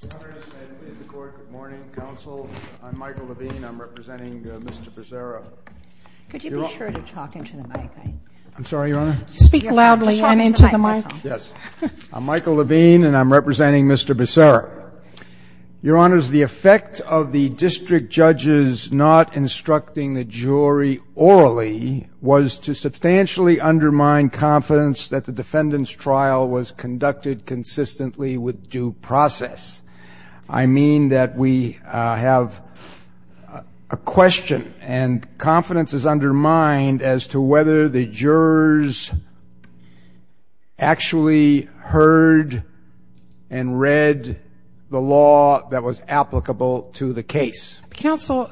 Good morning, counsel. I'm Michael Levine. I'm representing Mr. Becerra. Could you be sure to talk into the mic? I'm sorry, Your Honor? Speak loudly and into the mic. Yes. I'm Michael Levine, and I'm representing Mr. Becerra. Your Honors, the effect of the district judges not instructing the jury orally was to substantially undermine confidence that the defendant's trial was conducted consistently with due process. I mean that we have a question, and confidence is undermined as to whether the jurors actually heard and read the law that was applicable to the case. Counsel,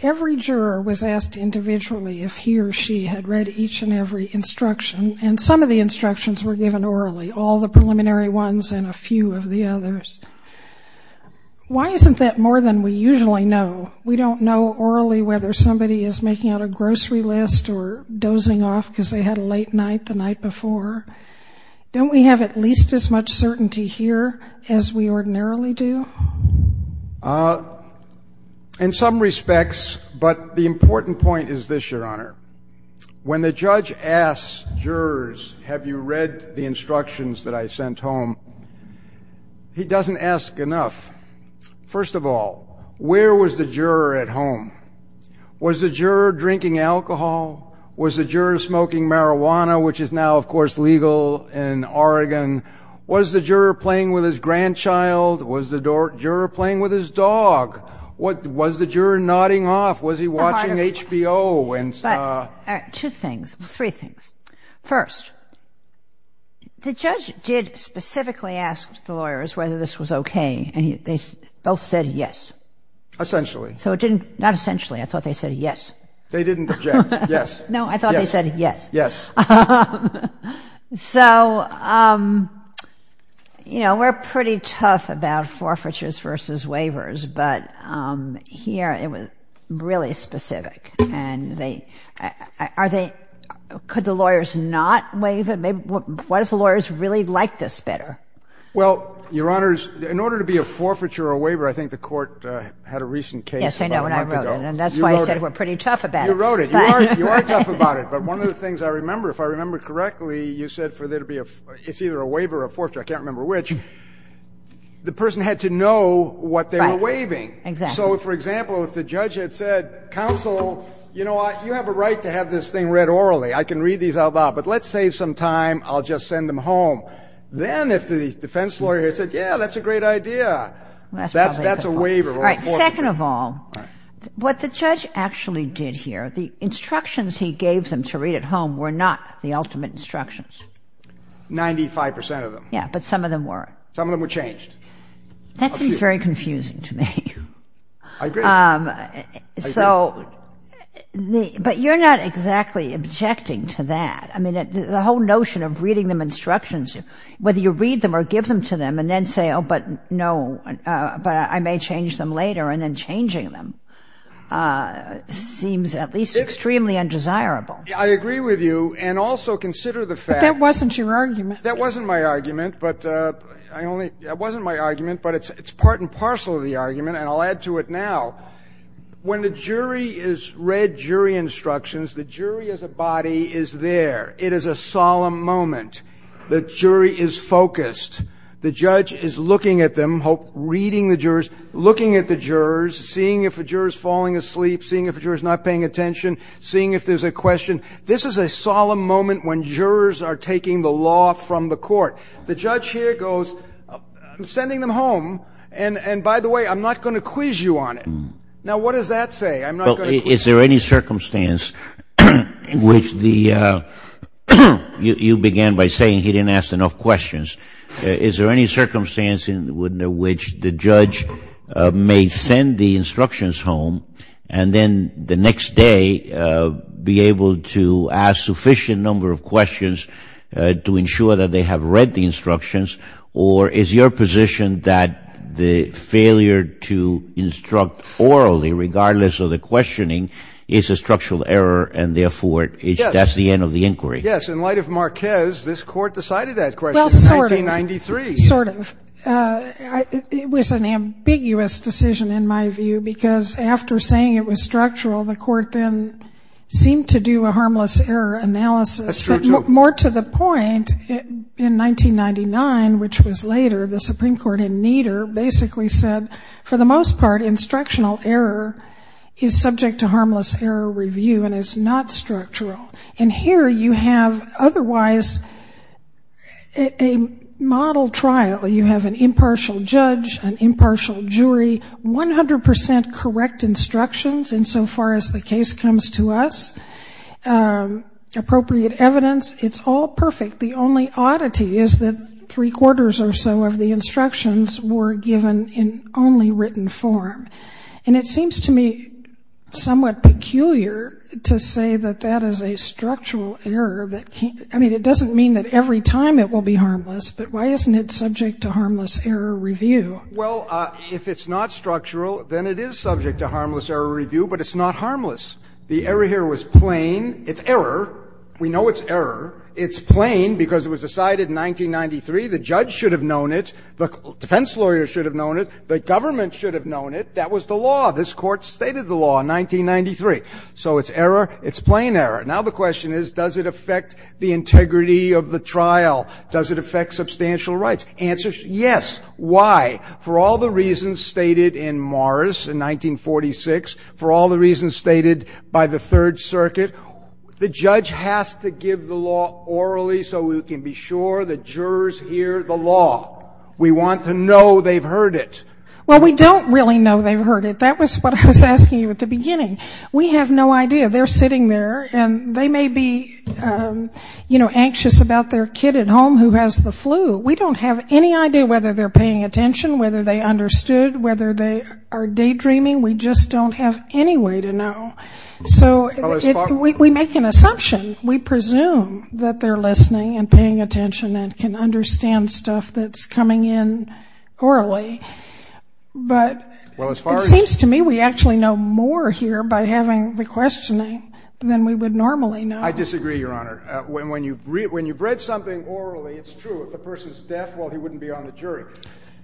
every juror was asked individually if he or she had read each and every instruction, and some of the instructions were given orally, all the preliminary ones and a few of the others. Why isn't that more than we usually know? We don't know orally whether somebody is making out a grocery list or dozing off because they had a late night the night before. Don't we have at least as much certainty here as we ordinarily do? In some respects, but the important point is this, Your Honor. When the judge asks jurors, have you read the instructions that I sent home, he doesn't ask enough. First of all, where was the juror at home? Was the juror drinking alcohol? Was the juror smoking marijuana, which is now, of course, legal in Oregon? Was the juror playing with his grandchild? Was the juror playing with his dog? Was the juror nodding off? Was he watching HBO? Two things, three things. First, the judge did specifically ask the lawyers whether this was okay, and they both said yes. Essentially. Not essentially. I thought they said yes. They didn't object. Yes. No, I thought they said yes. Yes. So, you know, we're pretty tough about forfeitures versus waivers, but here it was really specific. And could the lawyers not waive it? What if the lawyers really liked us better? Well, Your Honors, in order to be a forfeiture or a waiver, I think the court had a recent case about a month ago. Yes, I know, and I wrote it, and that's why I said we're pretty tough about it. You wrote it. You are tough about it. But one of the things I remember, if I remember correctly, you said it's either a waiver or a forfeiture. I can't remember which. The person had to know what they were waiving. Exactly. So, for example, if the judge had said, counsel, you know what, you have a right to have this thing read orally. I can read these out loud, but let's save some time. I'll just send them home. Then if the defense lawyer had said, yeah, that's a great idea, that's a waiver or a forfeiture. Second of all, what the judge actually did here, the instructions he gave them to read at home were not the ultimate instructions. Ninety-five percent of them. Yeah, but some of them were. Some of them were changed. That seems very confusing to me. I agree. So, but you're not exactly objecting to that. I mean, the whole notion of reading them instructions, whether you read them or give them to them and then say, oh, but no, but I may change them later and then changing them seems at least extremely undesirable. I agree with you. And also consider the fact. But that wasn't your argument. That wasn't my argument, but it's part and parcel of the argument, and I'll add to it now. When the jury has read jury instructions, the jury as a body is there. It is a solemn moment. The jury is focused. The judge is looking at them, reading the jurors, looking at the jurors, seeing if a juror is falling asleep, seeing if a juror is not paying attention, seeing if there's a question. This is a solemn moment when jurors are taking the law from the court. The judge here goes, I'm sending them home, and by the way, I'm not going to quiz you on it. Now, what does that say? Is there any circumstance in which the you began by saying he didn't ask enough questions. Is there any circumstance in which the judge may send the instructions home and then the next day be able to ask a sufficient number of questions to ensure that they have read the instructions? Or is your position that the failure to instruct orally, regardless of the questioning, is a structural error, and therefore that's the end of the inquiry? Yes. In light of Marquez, this Court decided that question in 1993. Sort of. It was an ambiguous decision in my view, because after saying it was structural, the Court then seemed to do a harmless error analysis. That's true, too. More to the point, in 1999, which was later, the Supreme Court in Nieder basically said, for the most part, instructional error is subject to harmless error review and is not structural. And here you have otherwise a model trial. You have an impartial judge, an impartial jury, 100 percent correct instructions insofar as the case comes to us, appropriate evidence. It's all perfect. The only oddity is that three-quarters or so of the instructions were given in only written form. And it seems to me somewhat peculiar to say that that is a structural error. I mean, it doesn't mean that every time it will be harmless, but why isn't it subject to harmless error review? Well, if it's not structural, then it is subject to harmless error review, but it's not harmless. The error here was plain. It's error. We know it's error. It's plain because it was decided in 1993. The judge should have known it. The defense lawyer should have known it. The government should have known it. That was the law. This Court stated the law in 1993. So it's error. It's plain error. Now the question is, does it affect the integrity of the trial? Does it affect substantial rights? Answer, yes. Why? For all the reasons stated in Morris in 1946, for all the reasons stated by the Third Circuit, the judge has to give the law orally so we can be sure the jurors hear the law. We want to know they've heard it. Well, we don't really know they've heard it. That was what I was asking you at the beginning. We have no idea. They're sitting there, and they may be, you know, anxious about their kid at home who has the flu. We don't have any idea whether they're paying attention, whether they understood, whether they are daydreaming. We just don't have any way to know. So we make an assumption. We presume that they're listening and paying attention and can understand stuff that's coming in orally. But it seems to me we actually know more here by having the questioning than we would normally know. I disagree, Your Honor. When you've read something orally, it's true. If the person is deaf, well, he wouldn't be on the jury.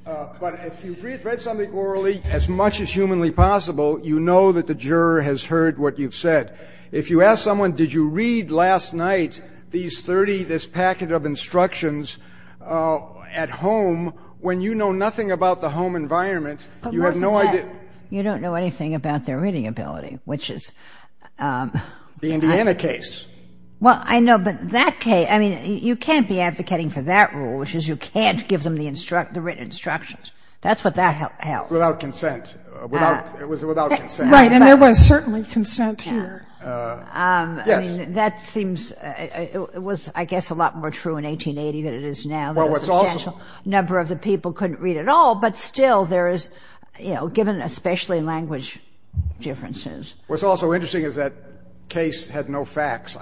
But if you've read something orally, as much as humanly possible, you know that the juror has heard what you've said. If you ask someone, did you read last night these 30, this packet of instructions at home, when you know nothing about the home environment, you have no idea. But most of the time, you don't know anything about their reading ability, which is- The Indiana case. Well, I know, but that case, I mean, you can't be advocating for that rule, which is you can't give them the written instructions. That's what that held. Without consent. It was without consent. Right, and there was certainly consent here. Yes. I mean, that seems it was, I guess, a lot more true in 1880 than it is now. Well, what's also- A substantial number of the people couldn't read at all, but still there is, you know, given especially language differences. What's also interesting is that case had no facts.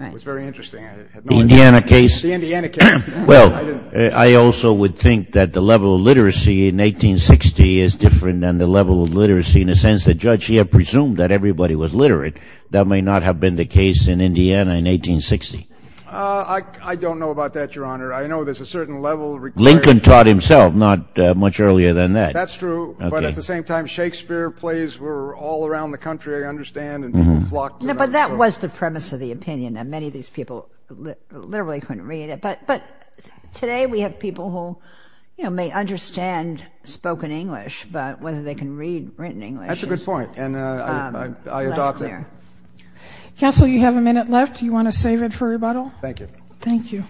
It was very interesting. The Indiana case? The Indiana case. Well, I also would think that the level of literacy in 1860 is different than the level of literacy in the sense that judge here presumed that everybody was literate. That may not have been the case in Indiana in 1860. I don't know about that, Your Honor. I know there's a certain level of- Lincoln taught himself, not much earlier than that. That's true. But at the same time, Shakespeare plays were all around the country, I understand, and people flocked to them. But that was the premise of the opinion, that many of these people literally couldn't read it. But today we have people who, you know, may understand spoken English, but whether they can read written English is less clear. That's a good point, and I adopt it. Counsel, you have a minute left. Do you want to save it for rebuttal? Thank you. Thank you.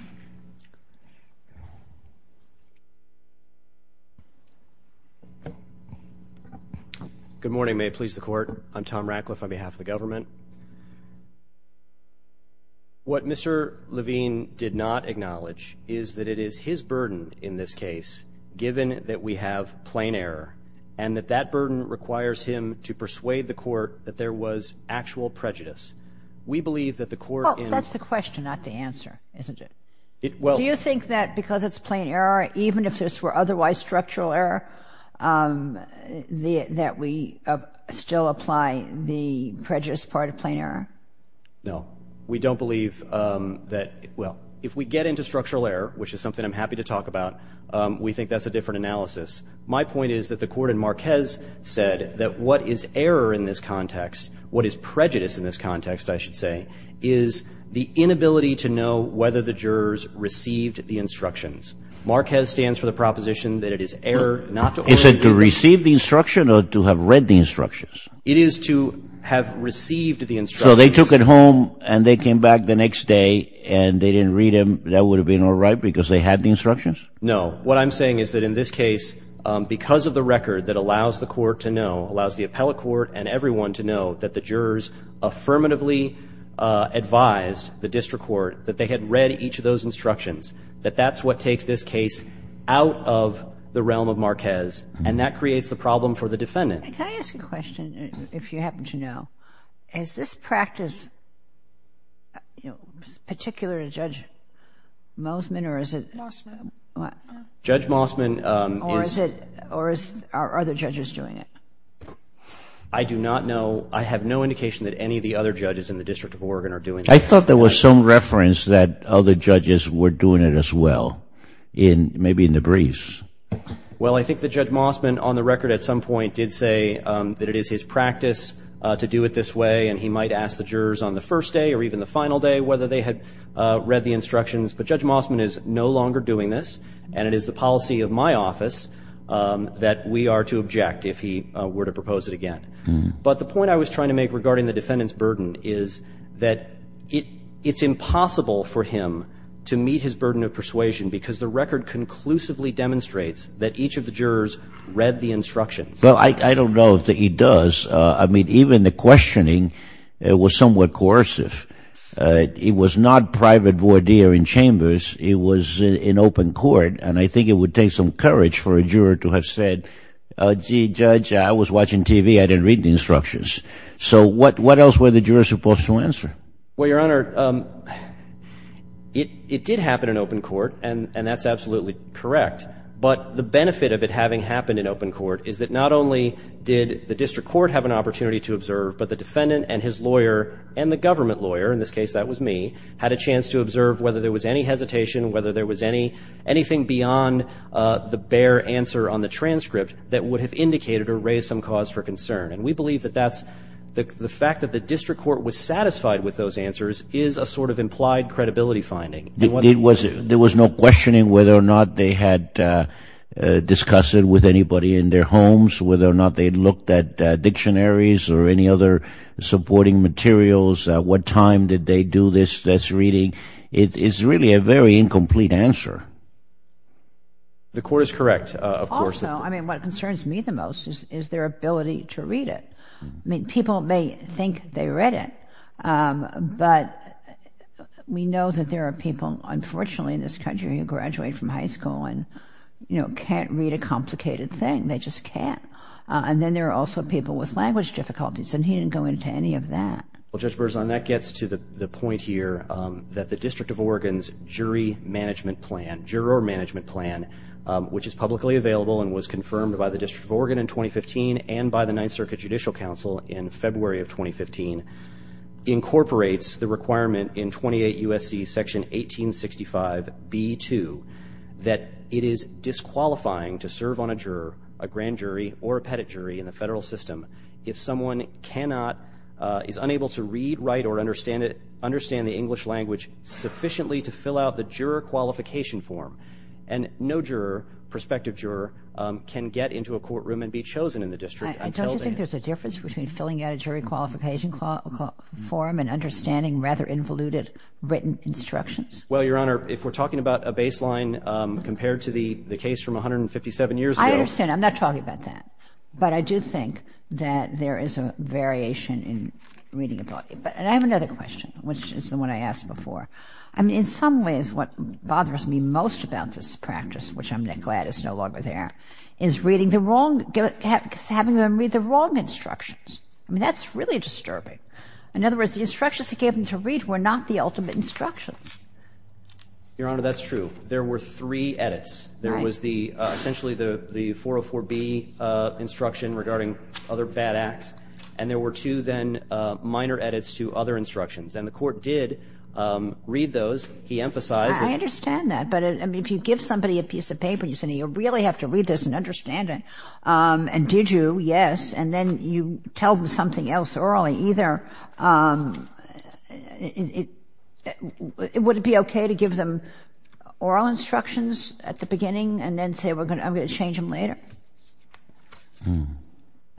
Good morning. May it please the Court. I'm Tom Ratcliffe on behalf of the government. What Mr. Levine did not acknowledge is that it is his burden in this case, given that we have plain error, and that that burden requires him to persuade the Court that there was actual prejudice. We believe that the Court in- Well, that's the question, not the answer, isn't it? Do you think that because it's plain error, even if this were otherwise structural error, that we still apply the prejudice part of plain error? No. We don't believe that- Well, if we get into structural error, which is something I'm happy to talk about, we think that's a different analysis. My point is that the Court in Marquez said that what is error in this context, what is prejudice in this context, I should say, is the inability to know whether the jurors received the instructions. Marquez stands for the proposition that it is error not to- Is it to receive the instruction or to have read the instructions? It is to have received the instructions. So they took it home and they came back the next day and they didn't read them. That would have been all right because they had the instructions? No. What I'm saying is that in this case, because of the record that allows the Court to know, allows the appellate court and everyone to know that the jurors affirmatively advised the district court that they had read each of those instructions, that that's what takes this case out of the realm of Marquez, and that creates the problem for the defendant. Can I ask a question, if you happen to know? Is this practice particular to Judge Mossman or is it- Mossman. Judge Mossman is- Or is it, are other judges doing it? I do not know. I have no indication that any of the other judges in the District of Oregon are doing it. I thought there was some reference that other judges were doing it as well, maybe in the briefs. Well, I think that Judge Mossman on the record at some point did say that it is his practice to do it this way and he might ask the jurors on the first day or even the final day whether they had read the instructions, but Judge Mossman is no longer doing this and it is the policy of my office that we are to object if he were to propose it again. But the point I was trying to make regarding the defendant's burden is that it's impossible for him to meet his burden of persuasion because the record conclusively demonstrates that each of the jurors read the instructions. Well, I don't know that he does. I mean, even the questioning, it was somewhat coercive. It was not private voir dire in chambers. It was in open court, and I think it would take some courage for a juror to have said, gee, Judge, I was watching TV. I didn't read the instructions. So what else were the jurors supposed to answer? Well, Your Honor, it did happen in open court, and that's absolutely correct. But the benefit of it having happened in open court is that not only did the district court have an opportunity to observe, but the defendant and his lawyer and the government lawyer, in this case that was me, had a chance to observe whether there was any hesitation, whether there was anything beyond the bare answer on the transcript that would have indicated or raised some cause for concern. And we believe that that's the fact that the district court was satisfied with those answers is a sort of implied credibility finding. There was no questioning whether or not they had discussed it with anybody in their homes, whether or not they had looked at dictionaries or any other supporting materials, what time did they do this, this reading. It is really a very incomplete answer. The court is correct, of course. Also, I mean, what concerns me the most is their ability to read it. I mean, people may think they read it, but we know that there are people, unfortunately, in this country who graduate from high school and, you know, can't read a complicated thing. They just can't. And then there are also people with language difficulties, and he didn't go into any of that. Well, Judge Berzon, that gets to the point here that the District of Oregon's jury management plan, juror management plan, which is publicly available and was confirmed by the District of Oregon in 2015 and by the Ninth Circuit Judicial Council in February of 2015, incorporates the requirement in 28 U.S.C. Section 1865b2 that it is disqualifying to serve on a juror, a grand jury, or a pettit jury in the federal system if someone cannot, is unable to read, write, or understand the English language sufficiently to fill out the juror qualification form. And no juror, prospective juror, can get into a courtroom and be chosen in the district. I don't think there's a difference between filling out a jury qualification form and understanding rather involuted written instructions. Well, Your Honor, if we're talking about a baseline compared to the case from 157 years ago. I understand. I'm not talking about that. But I do think that there is a variation in reading ability. And I have another question, which is the one I asked before. I mean, in some ways what bothers me most about this practice, which I'm glad is no longer there, is reading the wrong, having them read the wrong instructions. I mean, that's really disturbing. In other words, the instructions he gave them to read were not the ultimate instructions. Your Honor, that's true. There were three edits. Right. There was essentially the 404B instruction regarding other bad acts. And there were two then minor edits to other instructions. And the Court did read those. He emphasized that. I understand that. But, I mean, if you give somebody a piece of paper and you say, now, you really have to read this and understand it. And did you? Yes. And then you tell them something else orally. Either it would be okay to give them oral instructions at the beginning and then say, I'm going to change them later. I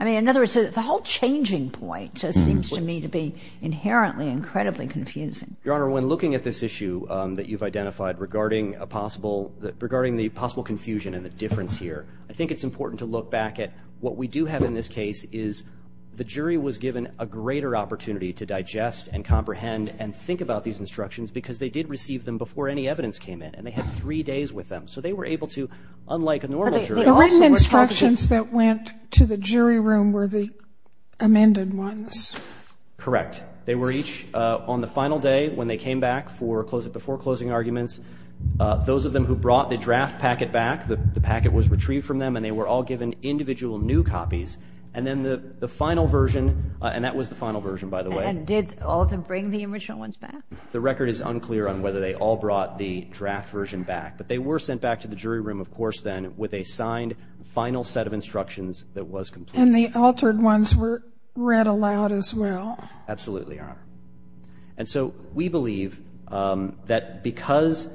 mean, in other words, the whole changing point seems to me to be inherently incredibly confusing. Your Honor, when looking at this issue that you've identified regarding a possible, regarding the possible confusion and the difference here, I think it's important to look back at what we do have in this case is the jury was given a greater opportunity to digest and comprehend and think about these instructions because they did receive them before any evidence came in. And they had three days with them. So they were able to, unlike a normal jury. The written instructions that went to the jury room were the amended ones. Correct. They were each on the final day when they came back before closing arguments. Those of them who brought the draft packet back, the packet was retrieved from them and they were all given individual new copies. And then the final version, and that was the final version, by the way. And did all of them bring the original ones back? The record is unclear on whether they all brought the draft version back. But they were sent back to the jury room, of course, then, with a signed final set of instructions that was complete. And the altered ones were read aloud as well. Absolutely, Your Honor. And so we believe that because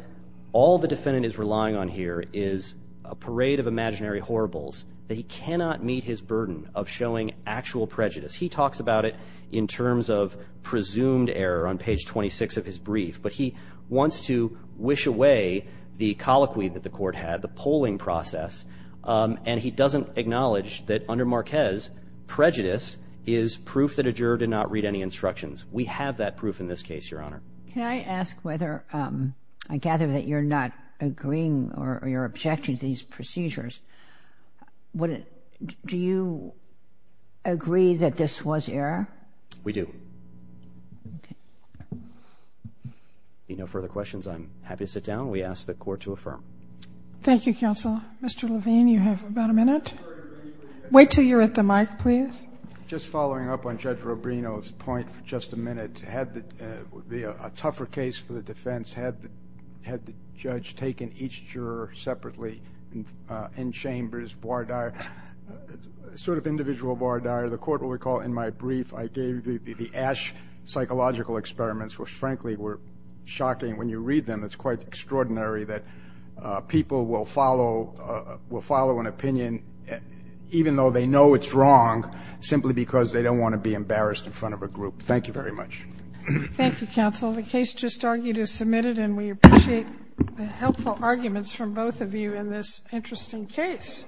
all the defendant is relying on here is a parade of imaginary horribles, that he cannot meet his burden of showing actual prejudice. He talks about it in terms of presumed error on page 26 of his brief. But he wants to wish away the colloquy that the court had, the polling process. And he doesn't acknowledge that under Marquez, prejudice is proof that a juror did not read any instructions. We have that proof in this case, Your Honor. Can I ask whether I gather that you're not agreeing or you're objecting to these procedures. Do you agree that this was error? We do. Okay. If you have no further questions, I'm happy to sit down. We ask the Court to affirm. Thank you, Counsel. Mr. Levine, you have about a minute. Wait until you're at the mic, please. Just following up on Judge Rubino's point for just a minute, a tougher case for the defense had the judge taken each juror separately in chambers, sort of individual voir dire. The Court will recall in my brief I gave the Ash psychological experiments, which, frankly, were shocking. When you read them, it's quite extraordinary that people will follow an opinion, even though they know it's wrong, simply because they don't want to be embarrassed in front of a group. Thank you very much. Thank you, Counsel. The case just argued is submitted, and we appreciate the helpful arguments from both of you in this interesting case.